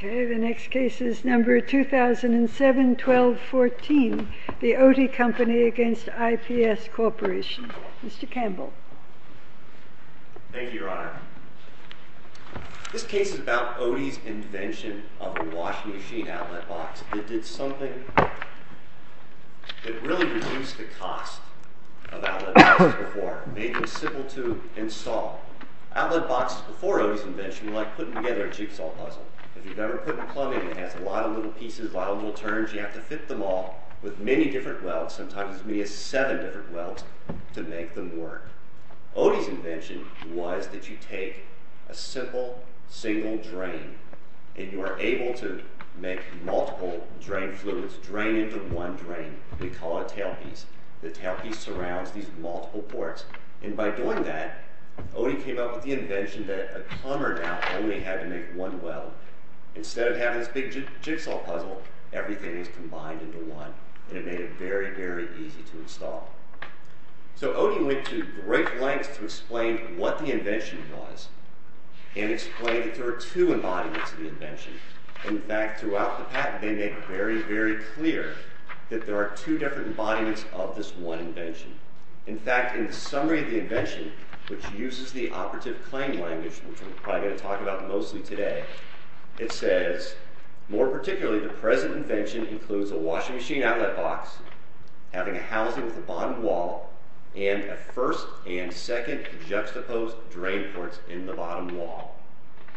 The next case is number 2007-1214, the Oatey Company v. IPS Corporation. Mr. Campbell. Thank you, Your Honor. This case is about Oatey's invention of a washing machine outlet box. It did something that really reduced the cost of outlet boxes before. Made them simple to install. Outlet boxes before Oatey's invention were like putting together a jigsaw puzzle. If you've ever put in plumbing that has a lot of little pieces, a lot of little turns, you have to fit them all with many different welds, sometimes as many as seven different welds, to make them work. Oatey's invention was that you take a simple, single drain, and you are able to make multiple drain fluids drain into one drain. They call it a tailpiece. The tailpiece surrounds these multiple ports. By doing that, Oatey came up with the invention that a plumber now only had to make one weld. Instead of having this big jigsaw puzzle, everything is combined into one. It made it very, very easy to install. Oatey went to great lengths to explain what the invention was, and explain that there are two embodiments of the invention. In fact, throughout the patent, they make it very, very clear that there are two different embodiments of this one invention. In fact, in the summary of the invention, which uses the operative claim language, which we're probably going to talk about mostly today, it says, more particularly, the present invention includes a washing machine outlet box, having a housing at the bottom wall, and a first and second juxtaposed drain ports in the bottom wall.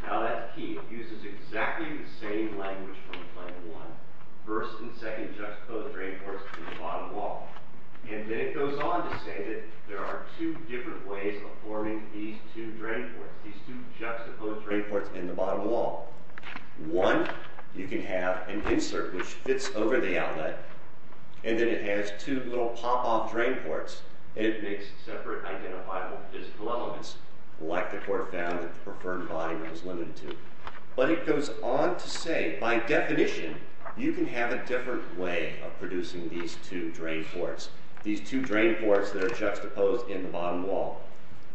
Now, that key uses exactly the same language from claim one, first and second juxtaposed drain ports in the bottom wall. And then it goes on to say that there are two different ways of forming these two drain ports, these two juxtaposed drain ports in the bottom wall. One, you can have an insert which fits over the outlet, and then it has two little pop-off drain ports, and it makes separate identifiable physical elements, like the core found in the preferred body that was limited to. But it goes on to say, by definition, you can have a different way of producing these two drain ports, these two drain ports that are juxtaposed in the bottom wall.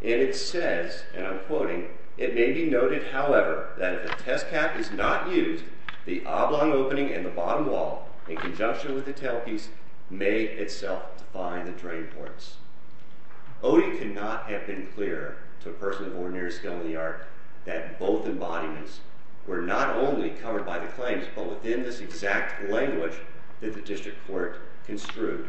And it says, and I'm quoting, it may be noted, however, that if a test cap is not used, the oblong opening in the bottom wall, in conjunction with the tailpiece, may itself define the drain ports. Odie could not have been clearer to a person of ordinary skill in the art that both embodiments were not only covered by the claims, but within this exact language that the district court construed.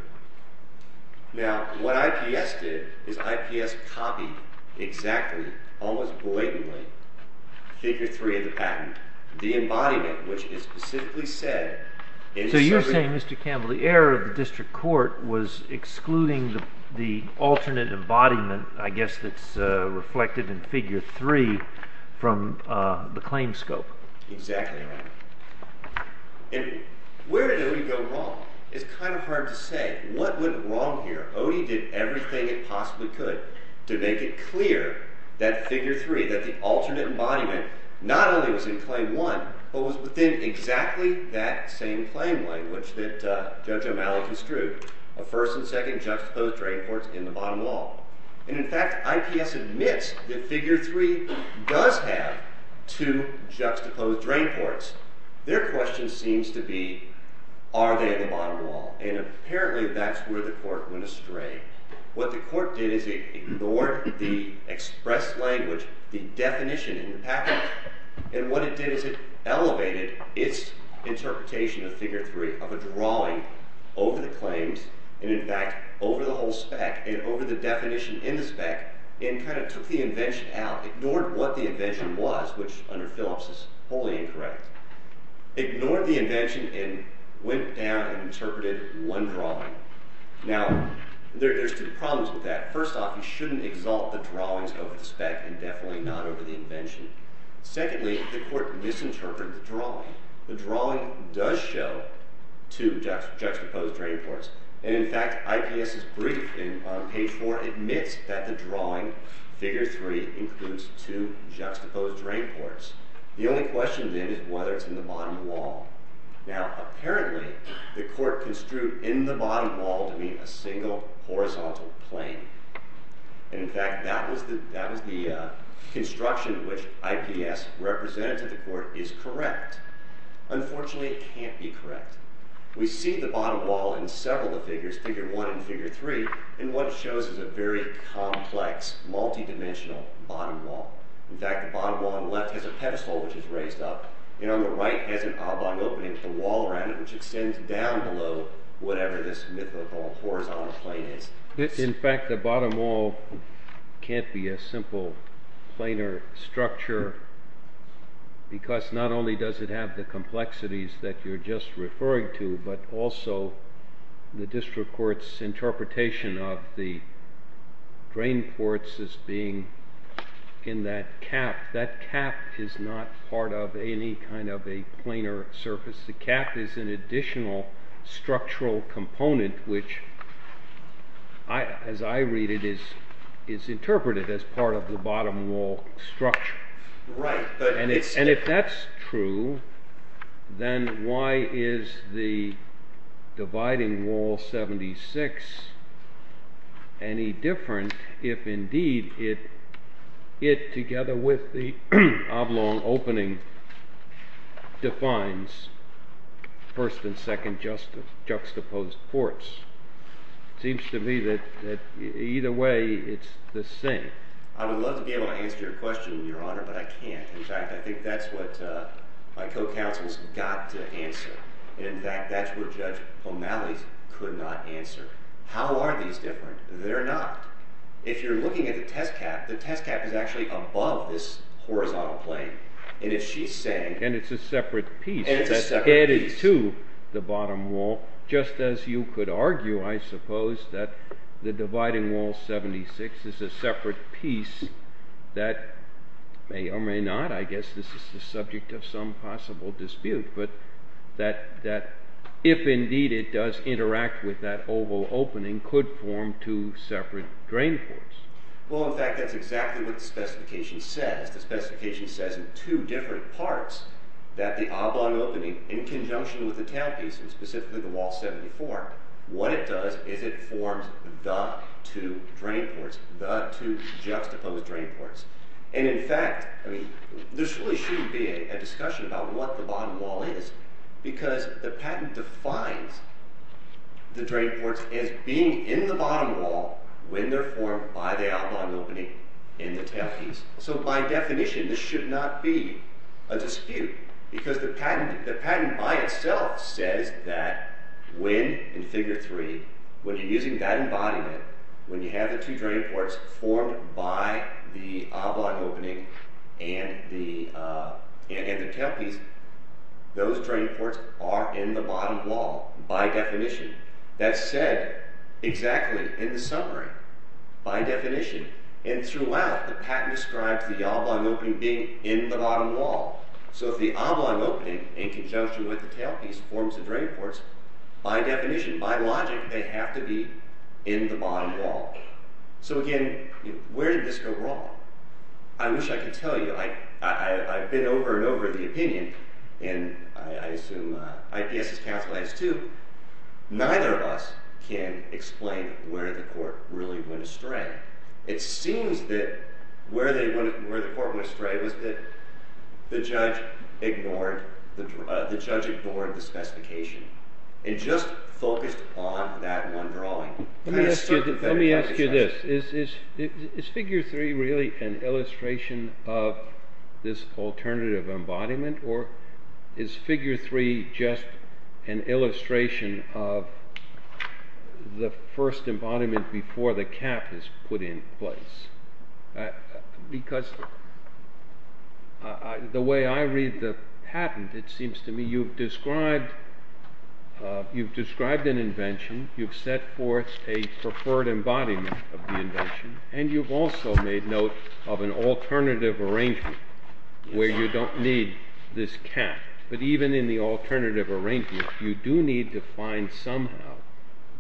Now, what IPS did is IPS copied exactly, almost blatantly, Figure 3 of the patent, the embodiment, which is specifically said... So you're saying, Mr. Campbell, the error of the district court was excluding the alternate embodiment, I guess that's reflected in Figure 3, from the claim scope. Exactly right. And where did Odie go wrong? It's kind of hard to say. What went wrong here? Odie did everything it possibly could to make it clear that Figure 3, that the alternate embodiment, not only was in Claim 1, but was within exactly that same claim language that Judge O'Malley construed, a first and second juxtaposed drain ports in the bottom wall. And in fact, IPS admits that Figure 3 does have two juxtaposed drain ports. Their question seems to be, are they in the bottom wall? And apparently, that's where the court went astray. What the court did is it ignored the expressed language, the definition in the patent. And what it did is it elevated its interpretation of Figure 3, of a drawing over the claims, and in fact, over the whole spec, and over the definition in the spec, and kind of took the invention out. Ignored what the invention was, which under Phillips is wholly incorrect. Ignored the invention and went down and interpreted one drawing. Now, there's two problems with that. First off, you shouldn't exalt the drawings over the spec, and definitely not over the invention. Secondly, the court misinterpreted the drawing. The drawing does show two juxtaposed drain ports. And in fact, IPS's brief in page 4 admits that the drawing, Figure 3, includes two juxtaposed drain ports. The only question then is whether it's in the bottom wall. Now, apparently, the court construed in the bottom wall to be a single horizontal plane. And in fact, that was the construction which IPS represented to the court is correct. Unfortunately, it can't be correct. We see the bottom wall in several of the figures, Figure 1 and Figure 3, and what it shows is a very complex, multidimensional bottom wall. In fact, the bottom wall on the left has a pedestal which is raised up, and on the right has an oblong opening to the wall around it which extends down below whatever this mythical horizontal plane is. In fact, the bottom wall can't be a simple planar structure because not only does it have the complexities that you're just referring to, but also the district court's interpretation of the drain ports as being in that cap. That cap is not part of any kind of a planar surface. The cap is an additional structural component which, as I read it, is interpreted as part of the bottom wall structure. Right. And if that's true, then why is the dividing wall 76 any different if indeed it, together with the oblong opening, defines first and second juxtaposed ports? Seems to me that either way it's the same. I would love to be able to answer your question, Your Honor, but I can't. In fact, I think that's what my co-counsel's got to answer. In fact, that's what Judge O'Malley could not answer. How are these different? They're not. If you're looking at the test cap, the test cap is actually above this horizontal plane. And if she's saying... And it's a separate piece. And it's a separate piece. That's added to the bottom wall. Just as you could argue, I suppose, that the dividing wall 76 is a separate piece that may or may not, I guess this is the subject of some possible dispute, but that if indeed it does interact with that oval opening, could form two separate drain ports. Well, in fact, that's exactly what the specification says. The specification says in two different parts that the oblong opening, in conjunction with the tailpiece, and specifically the wall 74, what it does is it forms the two drain ports, the two juxtaposed drain ports. And in fact, I mean, this really shouldn't be a discussion about what the bottom wall is because the patent defines the drain ports as being in the bottom wall when they're formed by the oblong opening in the tailpiece. So by definition, this should not be a dispute because the patent by itself says that when, in Figure 3, when you're using that embodiment, when you have the two drain ports formed by the oblong opening and the tailpiece, those drain ports are in the bottom wall, by definition. That's said exactly in the summary, by definition. And throughout, the patent describes the oblong opening being in the bottom wall. So if the oblong opening, in conjunction with the tailpiece, forms the drain ports, by definition, by logic, they have to be in the bottom wall. So again, where did this go wrong? I wish I could tell you. I've been over and over the opinion, and I assume IPS has counseled on this too. Neither of us can explain where the court really went astray. It seems that where the court went astray was that the judge ignored the specification and just focused on that one drawing. Let me ask you this. Is Figure 3 really an illustration of this alternative embodiment? Or is Figure 3 just an illustration of the first embodiment before the cap is put in place? Because the way I read the patent, it seems to me you've described an invention, you've set forth a preferred embodiment of the invention, and you've also made note of an alternative arrangement where you don't need this cap. But even in the alternative arrangement, you do need to find somehow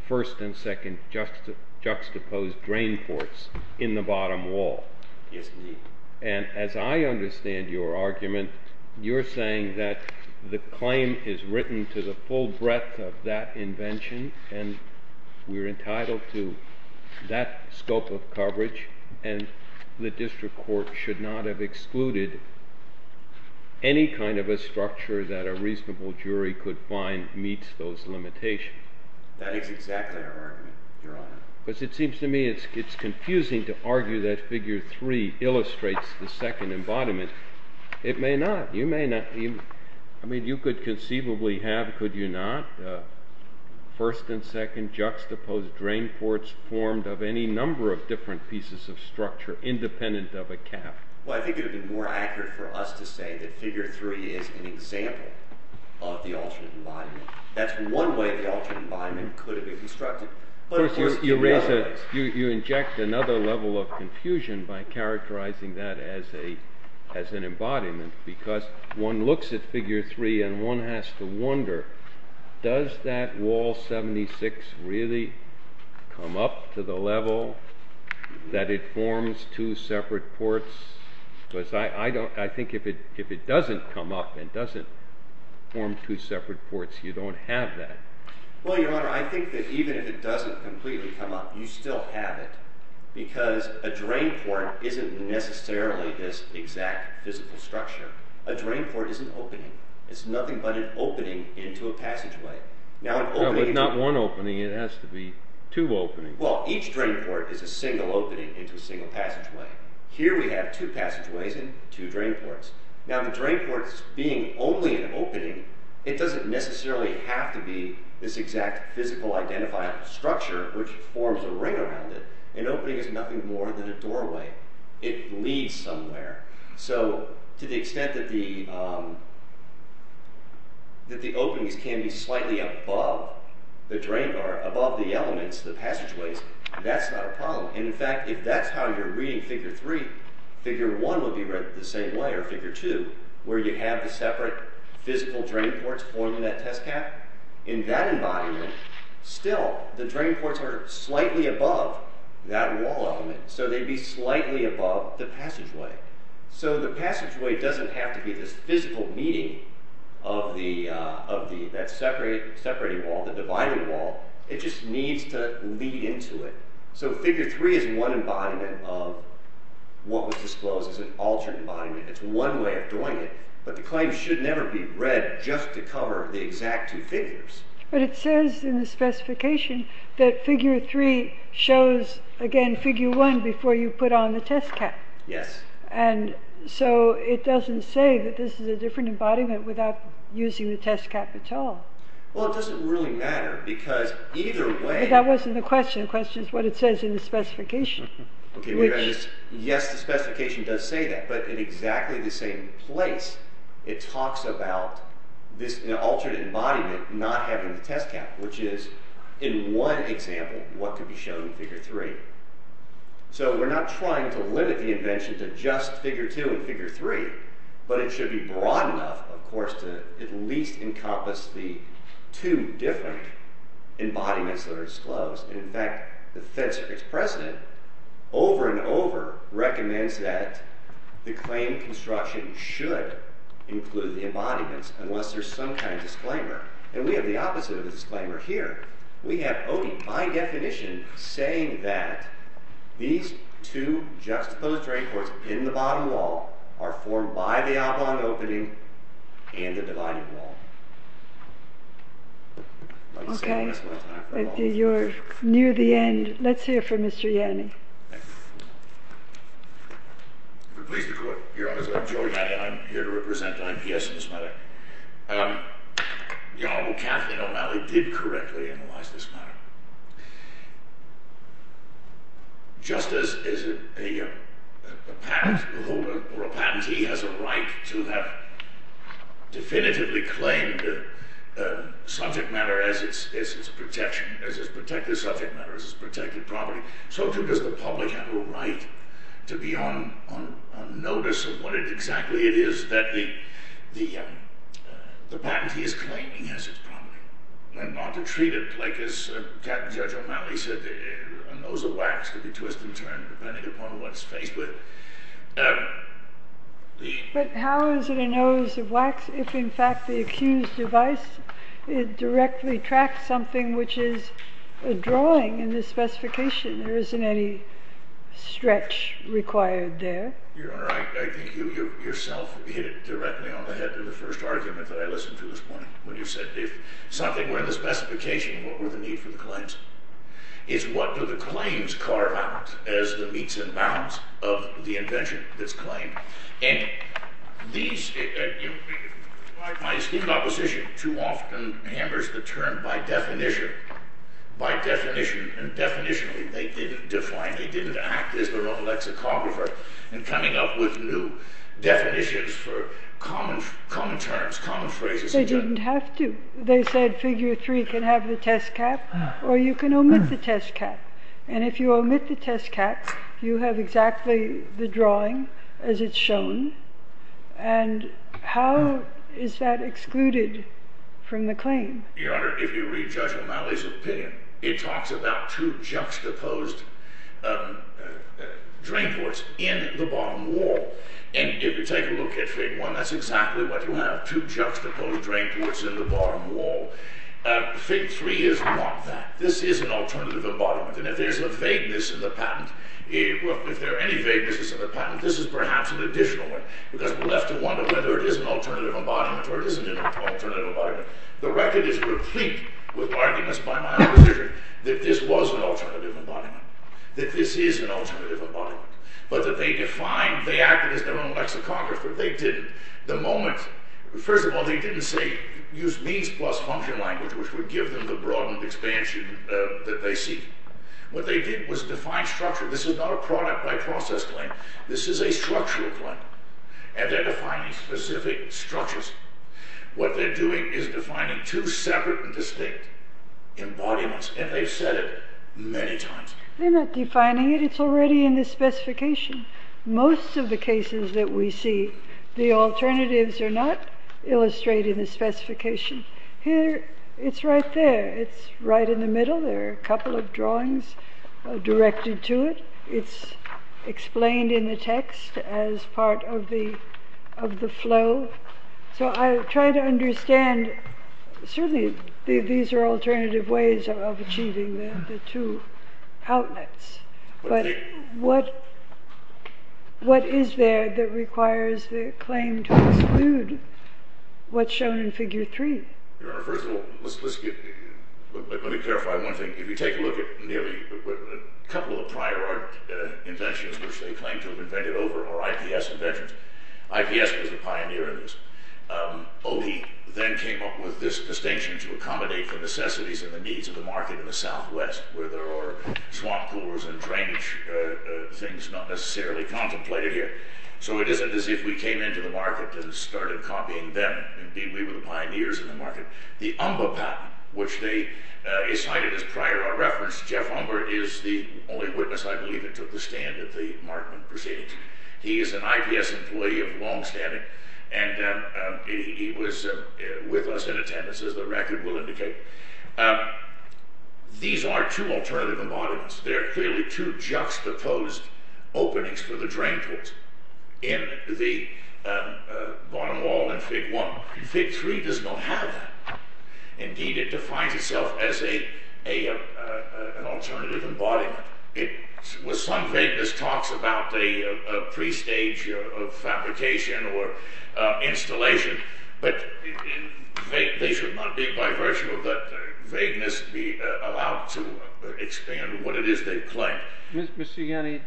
first and second juxtaposed drain ports in the bottom wall. Yes, indeed. And as I understand your argument, you're saying that the claim is written to the full breadth of that invention and we're entitled to that scope of coverage and the district court should not have excluded any kind of a structure that a reasonable jury could find meets those limitations. That is exactly our argument, Your Honor. Because it seems to me it's confusing to argue that Figure 3 illustrates the second embodiment. It may not. I mean, you could conceivably have, could you not? First and second juxtaposed drain ports formed of any number of different pieces of structure independent of a cap. Well, I think it would be more accurate for us to say that Figure 3 is an example of the alternate embodiment. That's one way the alternate embodiment could have been constructed. You inject another level of confusion by characterizing that as an embodiment because one looks at Figure 3 and one has to wonder, does that wall 76 really come up to the level that it forms two separate ports? Because I think if it doesn't come up and doesn't form two separate ports, you don't have that. Well, Your Honor, I think that even if it doesn't completely come up you still have it because a drain port isn't necessarily this exact physical structure. A drain port is an opening. It's nothing but an opening into a passageway. But not one opening, it has to be two openings. Well, each drain port is a single opening into a single passageway. Here we have two passageways and two drain ports. Now the drain ports being only an opening it doesn't necessarily have to be this exact physical identifiable structure which forms a ring around it. An opening is nothing more than a doorway. It leads somewhere. So to the extent that the openings can be slightly above the elements, the passageways, that's not a problem. In fact, if that's how you're reading Figure 3 Figure 1 would be read the same way, or Figure 2, where you have the separate physical drain ports forming that test cap. In that environment, still the drain ports are slightly above that wall element. So they'd be slightly above the passageway. So the passageway doesn't have to be this physical meeting of that separating wall, the dividing wall. It just needs to lead into it. So Figure 3 is one environment of what was disclosed as an altered environment. It's one way of doing it, but the claim should never be read just to cover the exact two figures. But it says in the specification that Figure 3 shows again, Figure 1 before you put on the test cap. Yes. And so it doesn't say that this is a different embodiment without using the test cap at all. Well, it doesn't really matter because either way... But that wasn't the question. The question is what it says in the specification. Yes, the specification does say that, but in exactly the same place it talks about this altered embodiment not having the test cap, which is, in one example, what could be shown in Figure 3. So we're not trying to limit the invention to just Figure 2 and Figure 3, but it should be broad enough, of course, to at least encompass the two different embodiments that are disclosed. In fact, the Fed Circuit's president over and over recommends that the claimed construction should include the embodiments unless there's some kind of disclaimer. And we have the opposite of a disclaimer here. We have Odie, by definition, saying that these two juxtaposed draperies in the bottom wall are formed by the oblong opening and the divided wall. Okay. You're near the end. Let's hear from Mr. Yanni. I'm pleased to be here. I'm Joey Yanni. I'm here to represent the IPS in this matter. The Honorable Kathleen O'Malley did correctly analyze this matter. Just as a patent holder or a patentee has a right to have definitively claimed subject matter as its protected subject matter as its protected property, so too does the public have a right to be on notice of what exactly it is that the patentee is claiming as its property and not to treat it like as Judge O'Malley said, a nose of wax can be twisted and turned depending upon what it's faced with. But how is it a nose of wax if in fact the accused device directly tracks something which is a drawing in the specification? There isn't any stretch required there. Your Honor, I think you yourself hit it directly on the head with the first argument that I listened to this morning when you said if something were in the specification, what were the needs for the claims? It's what do the claims carve out as the meets and bounds of the invention that's claimed? And these my esteemed opposition too often hammers the term by definition and definitionally they didn't define, they didn't act as their own lexicographer in coming up with new definitions for common terms, common phrases. They didn't have to. They said figure three can have the test cap or you can omit the test cap and if you omit the test cap you have exactly the drawing as it's shown and how is that excluded from the claim? Your Honor, if you read Judge O'Malley's opinion it talks about two juxtaposed drain ports in the bottom wall and if you take a look at Fig. 1 that's exactly what you have, two juxtaposed drain ports in the bottom wall. Fig. 3 is not that. This is an alternative embodiment and if there's a vagueness in the patent if there are any vaguenesses in the patent this is perhaps an additional one because we'll have to wonder whether it is an alternative embodiment or it isn't an alternative embodiment. The record is replete with arguments by my own position that this was an alternative embodiment that this is an alternative embodiment but that they defined, they acted as their own lexicographer. They didn't. The moment, first of all they didn't say use means plus function language which would give them the broadened expansion that they seek. What they did was define structure. This is not a product by process claim. This is a structural claim and they're defining specific structures. What they're doing is defining two separate and distinct embodiments and they've said it many times. They're not defining it. It's already in the specification. Most of the cases that we see, the alternatives are not illustrated in the specification. It's right there. It's right in the middle. There are a couple of drawings directed to it. It's explained in the text as part of the flow. So I try to understand certainly these are alternative ways of achieving the two outlets but what is there that requires the claim to exclude what's shown in figure three? Let me clarify one thing. If you take a look at a couple of prior art inventions which they claim to have invented over are IPS inventions. IPS was a pioneer in this. Opie then came up with this distinction to accommodate the necessities and the needs of the market in the Southwest where there are swamp pools and drainage things not necessarily contemplated here. So it isn't as if we came into the market and started copying them. Indeed we were the pioneers in the market. The Umba patent which they Umba is the only witness I believe that took the stand at the Markman proceedings. He is an IPS employee of long standing and he was with us in attendance as the record will indicate. These are two alternative embodiments. They're clearly two juxtaposed openings for the drainpipes in the bottom wall in fig one. Fig three does not have that. Indeed it defines itself as a an alternative embodiment. Some vagueness talks about a pre-stage of fabrication or installation but they should not be bi-versional but vagueness be allowed to expand what it is they claim. Mr. Yanni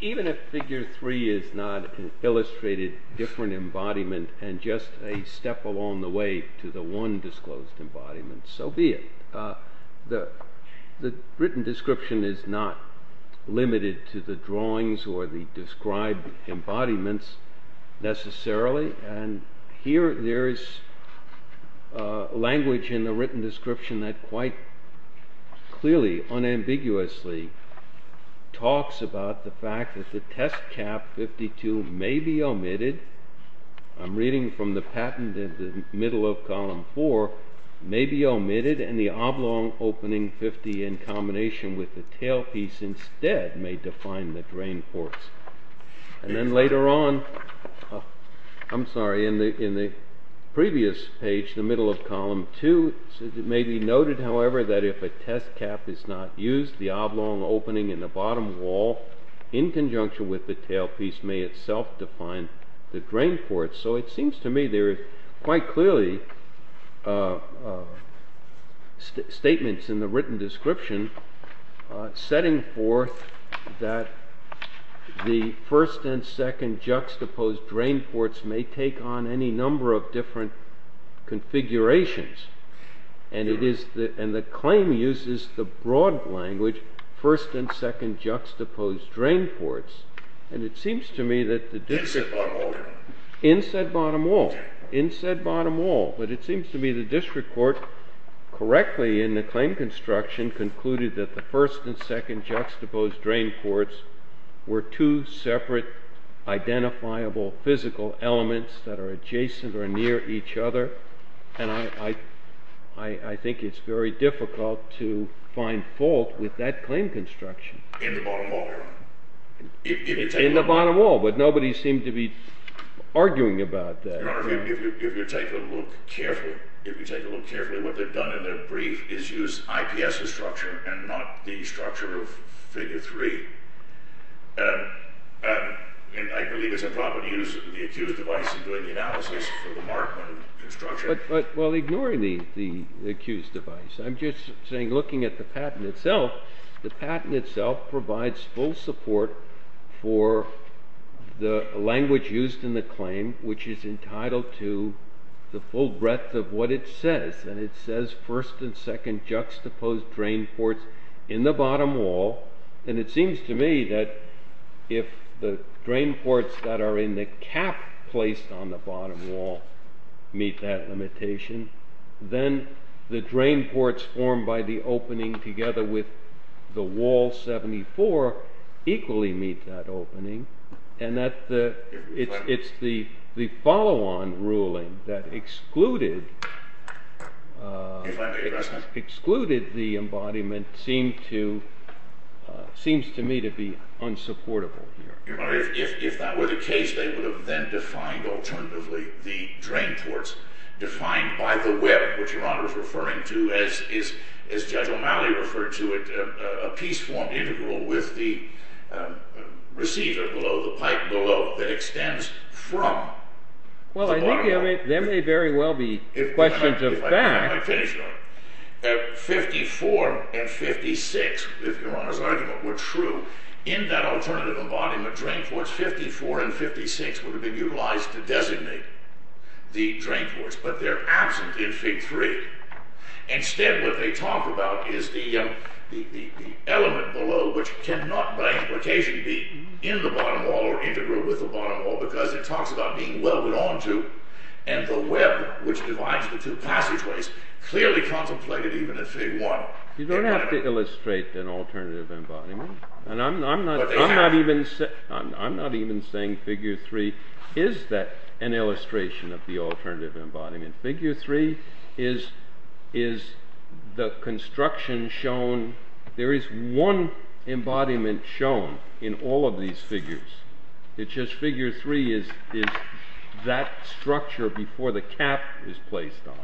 even if figure three is not illustrated different embodiment and just a step along the way to the one disclosed embodiment so be it. The written description is not limited to the drawings or the described embodiments necessarily and here there is language in the written description that quite clearly unambiguously talks about the fact that the test cap 52 may be omitted. I'm reading from the patent middle of column four may be omitted and the oblong opening 50 in combination with the tailpiece instead may define the drain ports. And then later on I'm sorry in the previous page the middle of column two may be noted however that if a test cap is not used the oblong opening in the bottom wall in conjunction with the tailpiece may itself define the drain ports so it seems to me there is quite clearly statements in the written description setting forth that the first and second juxtaposed drain ports may take on any number of different configurations and it is and the claim uses the broad language first and second juxtaposed drain ports and it seems to me in said bottom wall in said bottom wall but it seems to me the district court correctly in the claim construction concluded that the first and second juxtaposed drain ports were two separate identifiable physical elements that are adjacent or near each other and I think it's very difficult to find fault with that claim construction in the bottom wall but nobody seemed to be arguing about that if you take a look carefully what they've done in their brief is use IPS structure and not the structure of figure 3 and I believe it's improper to use the accused device in doing the analysis for the Markman construction but while ignoring the accused device I'm just saying looking at the patent itself the patent itself provides full support for the language used in the claim which is entitled to the full breadth of what it says and it says first and second juxtaposed drain ports in the bottom wall and it seems to me that if the drain ports that are in the cap placed on the bottom wall meet that limitation then the drain ports formed by the opening together with the wall 74 equally meet that opening and that it's the follow on ruling that excluded excluded the embodiment seems to seems to me to be unsupportable if that were the case they would have then defined alternatively the drain ports defined by the web which your honor is referring to as Judge O'Malley referred to it a piece form integral with the receiver below the pipe below that extends from well I think there may very well be questions of fact if I finish your honor 54 and 56 if your honor's argument were true in that alternative embodiment drain ports 54 and 56 would have been utilized to designate the drain ports but they're absent in fig 3 instead what they talk about is the element below which cannot by implication be in the bottom wall or integral with the bottom wall because it talks about being welded onto and the web which divides the two passageways clearly contemplated even in fig 1. You don't have to illustrate an alternative embodiment and I'm not even I'm not even saying fig 3 is that an illustration of the alternative embodiment fig 3 is the construction shown there is one embodiment shown in all of these figures it's just fig 3 is that structure before the cap is placed on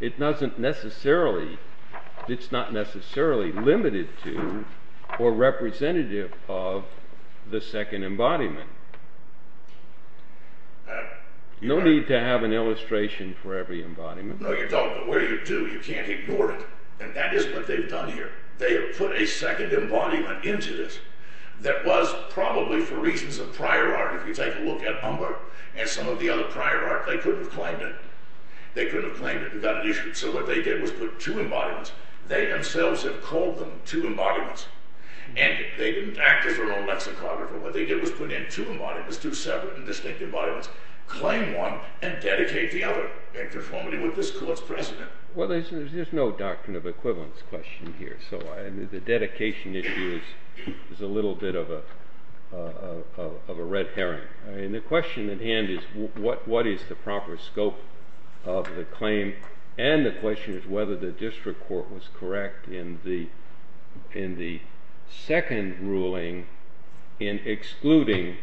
it doesn't necessarily it's not necessarily limited to or representative of the second embodiment no need to have an illustration for every embodiment no you don't but where you do you can't ignore it and that is what they've done here they have put a second embodiment into this that was probably for reasons of prior art if you take a look at Humber and some of the other prior art they couldn't have claimed it they couldn't have claimed it so what they did was put two embodiments they themselves have called them two embodiments and they didn't act as their own what they did was put in two separate and distinctive embodiments claim one and dedicate the other in conformity with this court's precedent there's no doctrine of equivalence question here so the dedication issue is a little bit of a red herring the question at hand is what is the proper scope of the claim and the question is whether the district court was correct in the second ruling in excluding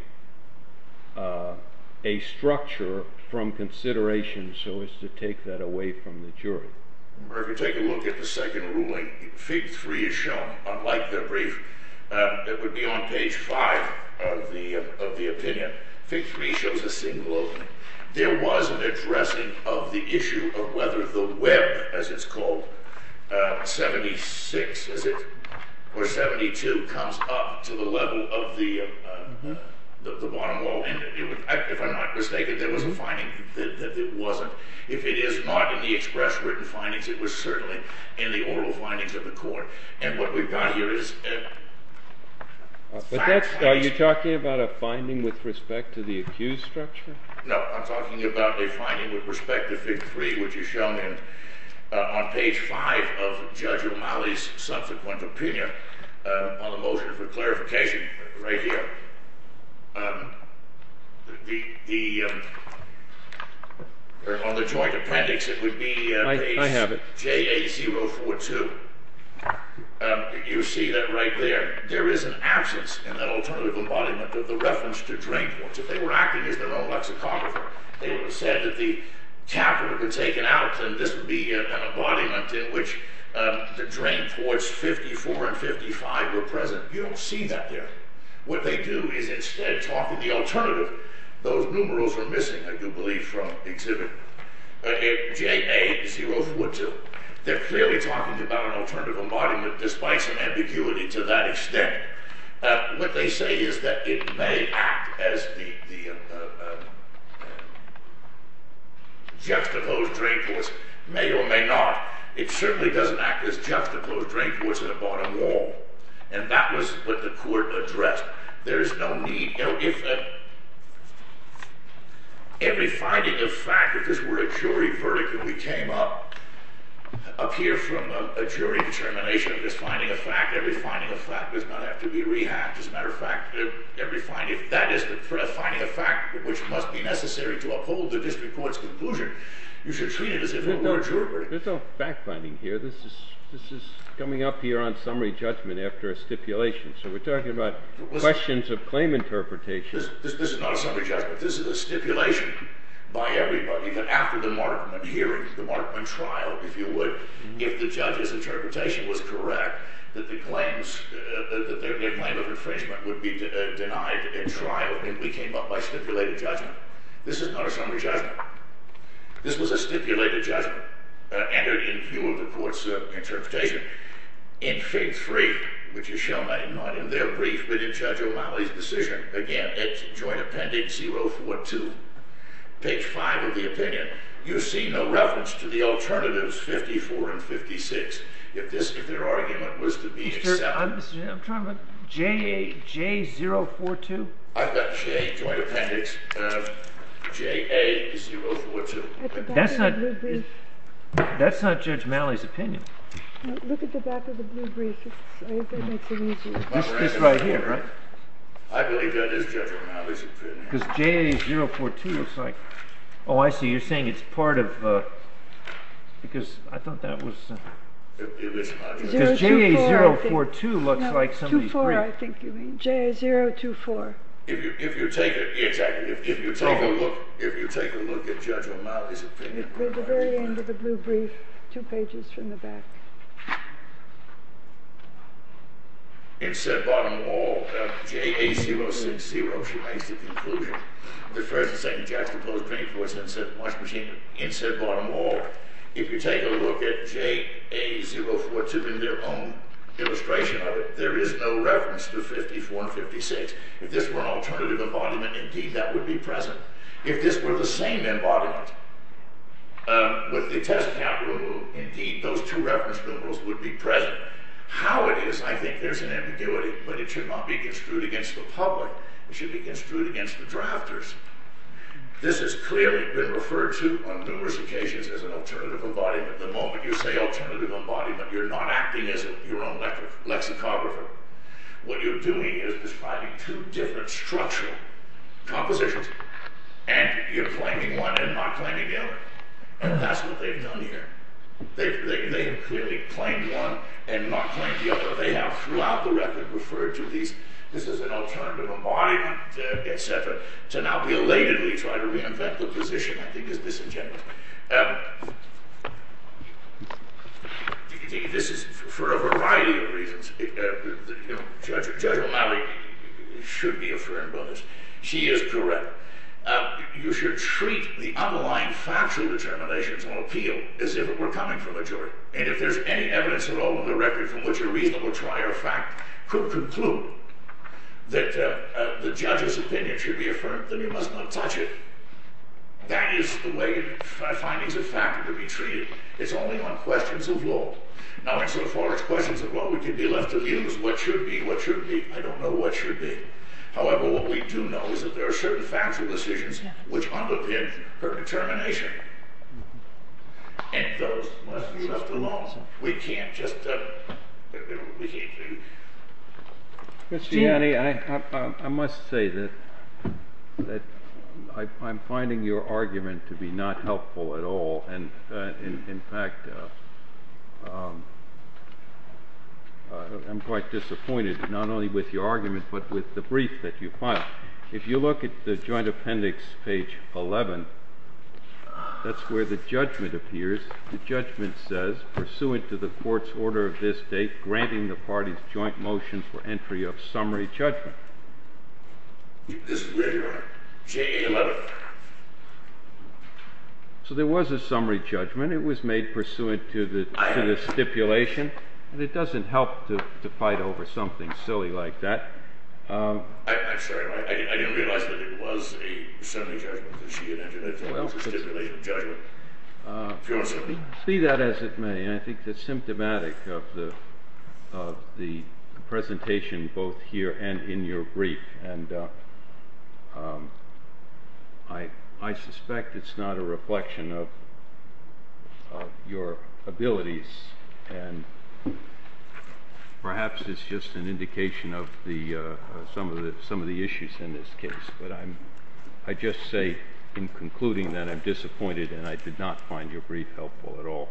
a structure from consideration so as to take that away from the jury take a look at the second ruling Fig 3 is shown unlike their brief it would be on page 5 of the opinion Fig 3 shows a single there was an addressing of the issue of whether the web as it's called 76 or 72 comes up to the level of the bottom wall if I'm not mistaken there was a finding that it wasn't if it is not in the express written findings it was certainly in the oral findings of the court and what we've got here is are you talking about a finding with respect to the accused structure no I'm talking about a finding with respect to Fig 3 which is shown on page 5 of Judge O'Malley's subsequent opinion on the motion for clarification right here the the on the joint appendix it would be page JA 042 you see that right there there is an absence in that alternative embodiment of the reference to drain ports if they were acting as their own lexicographer they would have said that the capital had been taken out and this would be an embodiment in which the drain ports 54 and 55 were present you don't see that there what they do is instead talk of the alternative those numerals are missing I do believe from exhibit JA 042 they're clearly talking about an alternative embodiment despite some ambiguity to that extent what they say is that it may act as the um juxtaposed drain ports may or may not it certainly doesn't act as juxtaposed drain ports at the bottom wall and that was what the court addressed there is no need if every finding of fact if this were a jury verdict and we came up up here from a jury determination of this finding of fact every finding of fact does not have to be rehashed as a matter of fact if that is the finding of fact which must be necessary to uphold the district court's conclusion you should treat it as if it were a jury verdict there's no fact finding here this is coming up here on summary judgment after a stipulation so we're talking about questions of claim interpretation this is not a summary judgment this is a stipulation by everybody that after the Markman hearings the Markman trial if you would if the judge's interpretation was correct that the claims that their claim of infringement would be denied in trial if we came up by stipulated judgment this is not a summary judgment this was a stipulated judgment entered in your report's interpretation in Fig. 3 which is shown not in their brief but in Judge O'Malley's decision again it's joint appendix 042 page 5 of the opinion you see no reference to the alternatives 54 and 56 if their argument was to be accepted I'm trying to look J042 I've got J joint appendix of JA042 that's not that's not Judge O'Malley's opinion look at the back of the blue brief it's right here right I believe that is Judge O'Malley's opinion because JA042 looks like oh I see you're saying it's part of because I thought that was because JA042 looks like somebody's brief JA024 if you take a look if you take a look at Judge O'Malley's opinion at the very end of the blue brief two pages from the back insert bottom wall JA060 she makes the conclusion the first and second judge proposed insert bottom wall if you take a look at JA042 in their own illustration there is no reference to 54 and 56 if this were an alternative embodiment indeed that would be present if this were the same embodiment with the test capital indeed those two reference numerals would be present how it is I think there's an ambiguity but it should not be construed against the public it should be construed against the drafters this has clearly been referred to on numerous occasions as an alternative embodiment the moment you say alternative embodiment you're not acting as your own lexicographer what you're doing is describing two different structural compositions and you're claiming one and not claiming the other and that's what they've done here they've clearly claimed one and not claimed the other they have throughout the record referred to these this is an alternative embodiment to now belatedly try to reinvent the position I think is disingenuous this is for a variety of reasons Judge O'Malley should be affirmed on this she is correct you should treat the underlying factual determinations on appeal as if it were coming from a jury and if there's any evidence at all in the record from which a reasonable trier fact could conclude that the judge's opinion should be affirmed then you must not touch it that is the way findings of fact are to be treated it's only on questions of law now insofar as questions of what we can be left to view is what should be what should be I don't know what should be however what we do know is that there are certain factual decisions which underpin her determination and those must be left alone we can't just we can't I must say that that I'm finding your argument to be not helpful at all and in fact I'm quite disappointed not only with your argument but with the brief that you filed if you look at the joint appendix page 11 that's where the judgment appears the judgment says pursuant to the court's order of this date granting the party's joint motion for entry of summary judgment so there was a summary judgment it was made pursuant to the stipulation and it doesn't help to fight over something silly like that I'm sorry I didn't realize that it was a summary judgment it was a stipulation judgment see that as it may I think that's symptomatic of the presentation both here and in your brief and I suspect it's not a reflection of your abilities and perhaps it's just an indication of some of the issues in this case I just say in concluding that I'm disappointed and I did not find your brief helpful at all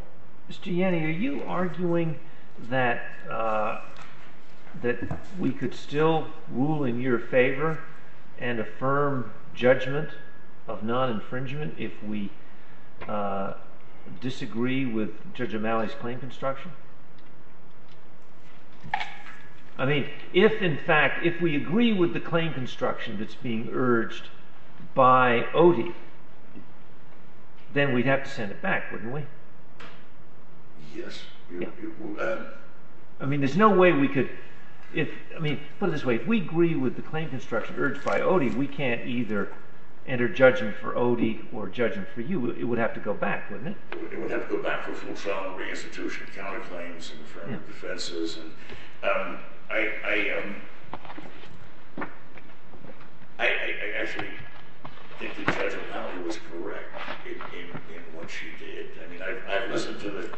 Mr. Yanni are you arguing that we could still rule in your favor and affirm judgment of non-infringement if we disagree with Judge O'Malley's claim construction I mean if in fact if we agree with the claim construction that's being urged by ODI then we'd have to send it back wouldn't we yes I mean there's no way we could put it this way if we agree with the claim construction urged by ODI we can't either enter judgment for ODI or judgment for you it would have to go back wouldn't it it would have to go back for a full trial reinstitution of counterclaims and affirmative defenses I I actually think that Judge O'Malley was correct in what she did I listened to the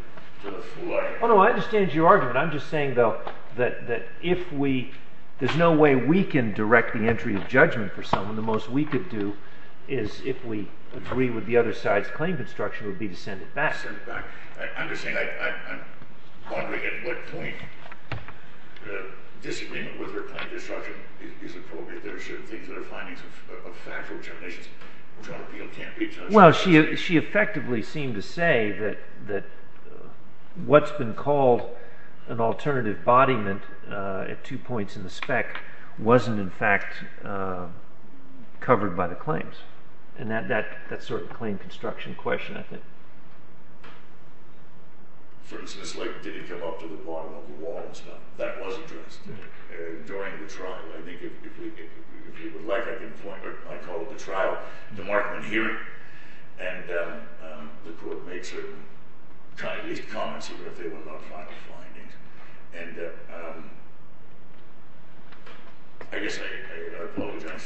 full argument I understand your argument I'm just saying though that if we there's no way we can direct the entry of judgment for someone the most we could do is if we agree with the claim construction would be to send it back I'm just saying I'm wondering at what point the disagreement with her claim construction is appropriate there are certain things that are findings of factual determinations well she effectively seemed to say that what's been called an alternative bodyment at two points in the spec wasn't in fact covered by the claims and that sort of claim construction question I think for instance like did it come up to the bottom of the wall and stuff that was addressed during the trial I think if we would like I can point I call it the trial the Markman hearing and the court made certain comments that they were not final findings and I guess I apologize I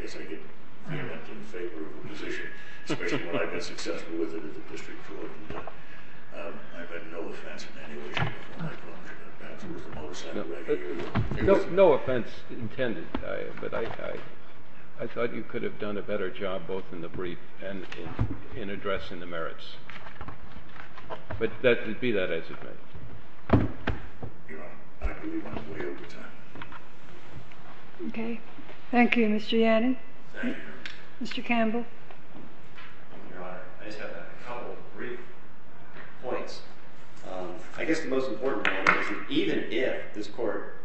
guess I guess I'm not in favor of a position especially when I've been successful with it in the district court I've had no offense in any way perhaps it was the motorcycle No offense intended but I thought you could have done a better job both in the brief and in addressing the merits but that would be that as it were Your Honor, I agree with you. Thank you Mr. Yannon Mr. Campbell Your Honor, I just have a couple brief points I guess the most important point is that even if this court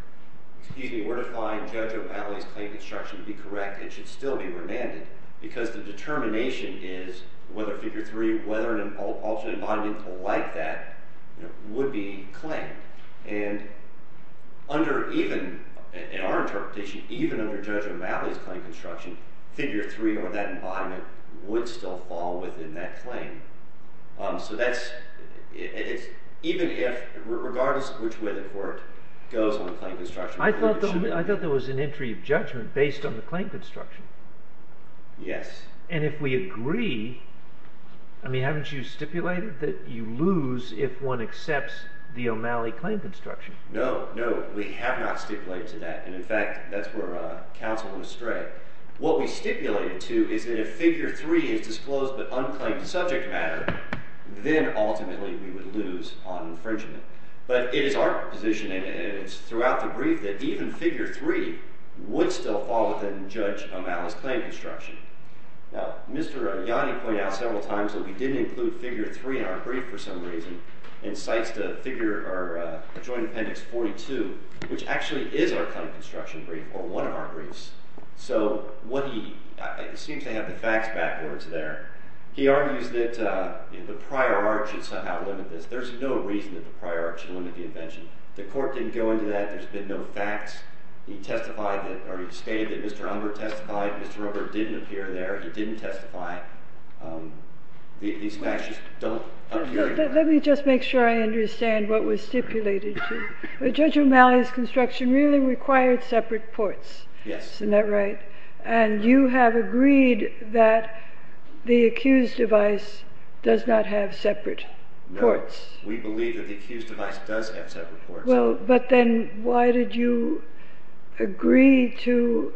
were to find Judge O'Malley's claim construction to be correct it should still be remanded because the determination is whether Figure 3, whether an alternative bodyment like that would be claimed and under even in our interpretation even under Judge O'Malley's claim construction Figure 3 or that bodyment would still fall within that claim so that's even if regardless which way the court goes on the claim construction I thought there was an entry of judgment based on the claim construction and if we agree I mean haven't you stipulated that you lose if one accepts the O'Malley claim construction No, no we have not stipulated to that and in fact that's where counsel was strayed. What we stipulated to is that if Figure 3 is disclosed but unclaimed to subject matter then ultimately we would lose on infringement but it is our position and it's throughout the brief that even Figure 3 would still fall within Judge O'Malley's claim construction Now Mr. Yannon pointed out several times that we didn't include Figure 3 in our brief for some reason and cites the joint appendix 42 which actually is our claim construction brief or one of our briefs so what he seems to have the facts backwards there he argues that the prior art should somehow limit this there's no reason that the prior art should limit the invention. The court didn't go into that there's been no facts. He testified or he stated that Mr. Humber testified Mr. Humber didn't appear there he didn't testify these facts just don't appear there. Let me just make sure I understand what was stipulated to Judge O'Malley's construction really required separate courts isn't that right? And you have agreed that the accused device does not have separate courts No, we believe that the accused device does have separate courts. Well but then why did you agree to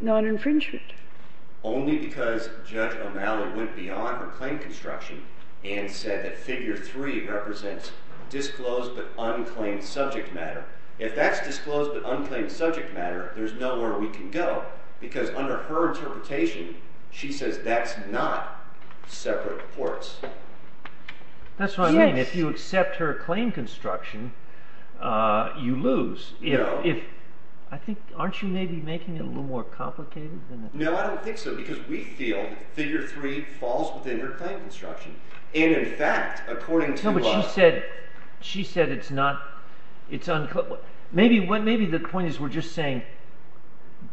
non-infringement? Only because Judge O'Malley went beyond her claim construction and said that Figure 3 represents disclosed but unclaimed subject matter. If that's disclosed but unclaimed subject matter there's nowhere we can go because under her interpretation she says that's not separate courts. That's what I mean. If you accept her claim construction you lose. Aren't you maybe making it a little more complicated? No, I don't think so because we feel Figure 3 falls within her claim construction and in fact according to her... No, but she said she said it's not maybe the point is we're just saying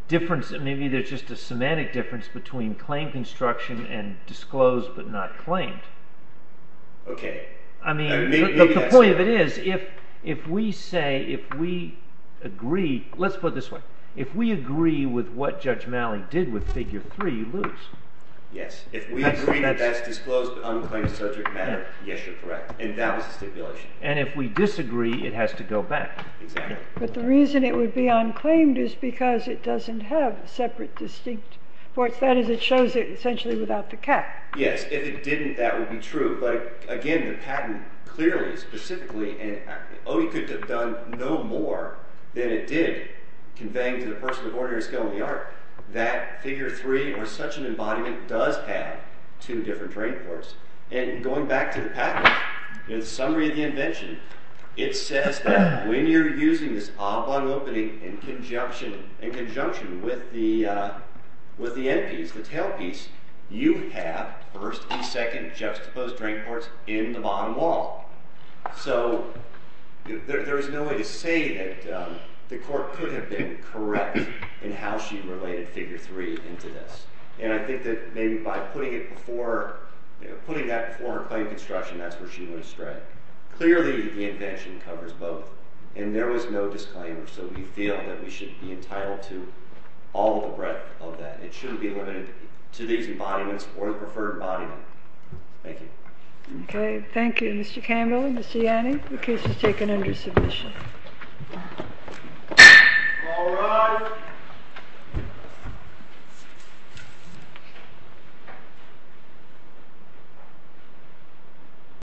maybe there's just a semantic difference between claim construction and disclosed but not claimed OK The point of it is if we say if we agree let's put it this way, if we agree with what Judge O'Malley did with Figure 3 you lose. Yes. If we agree that's disclosed but unclaimed subject matter yes you're correct and that was the stipulation. And if we disagree it has to go back. Exactly. But the reason it would be unclaimed is because it doesn't have separate distinct courts. That is it shows it essentially without the cap. Yes, if it didn't that would be true but again the patent clearly specifically and OE could have done no more than it did conveying to the person of ordinary skill in the art that Figure 3 or such an embodiment does have two different train courts and going back to the patent in the summary of the invention it says that when you're using this oblong opening in conjunction with the end piece, the tail piece you have first and second juxtaposed train courts in the bottom wall. So there is no way to say that the court could have been correct in how she related Figure 3 into this. And I think that maybe by putting it before putting that before her claim construction that's where she went astray. Clearly the invention covers both and there was no disclaimer so we feel that we should be entitled to all the breadth of that. It shouldn't be limited to these embodiments or the preferred embodiment. Thank you. Okay. Thank you Mr. Campbell Mr. Yanni. The case is taken under submission. All rise.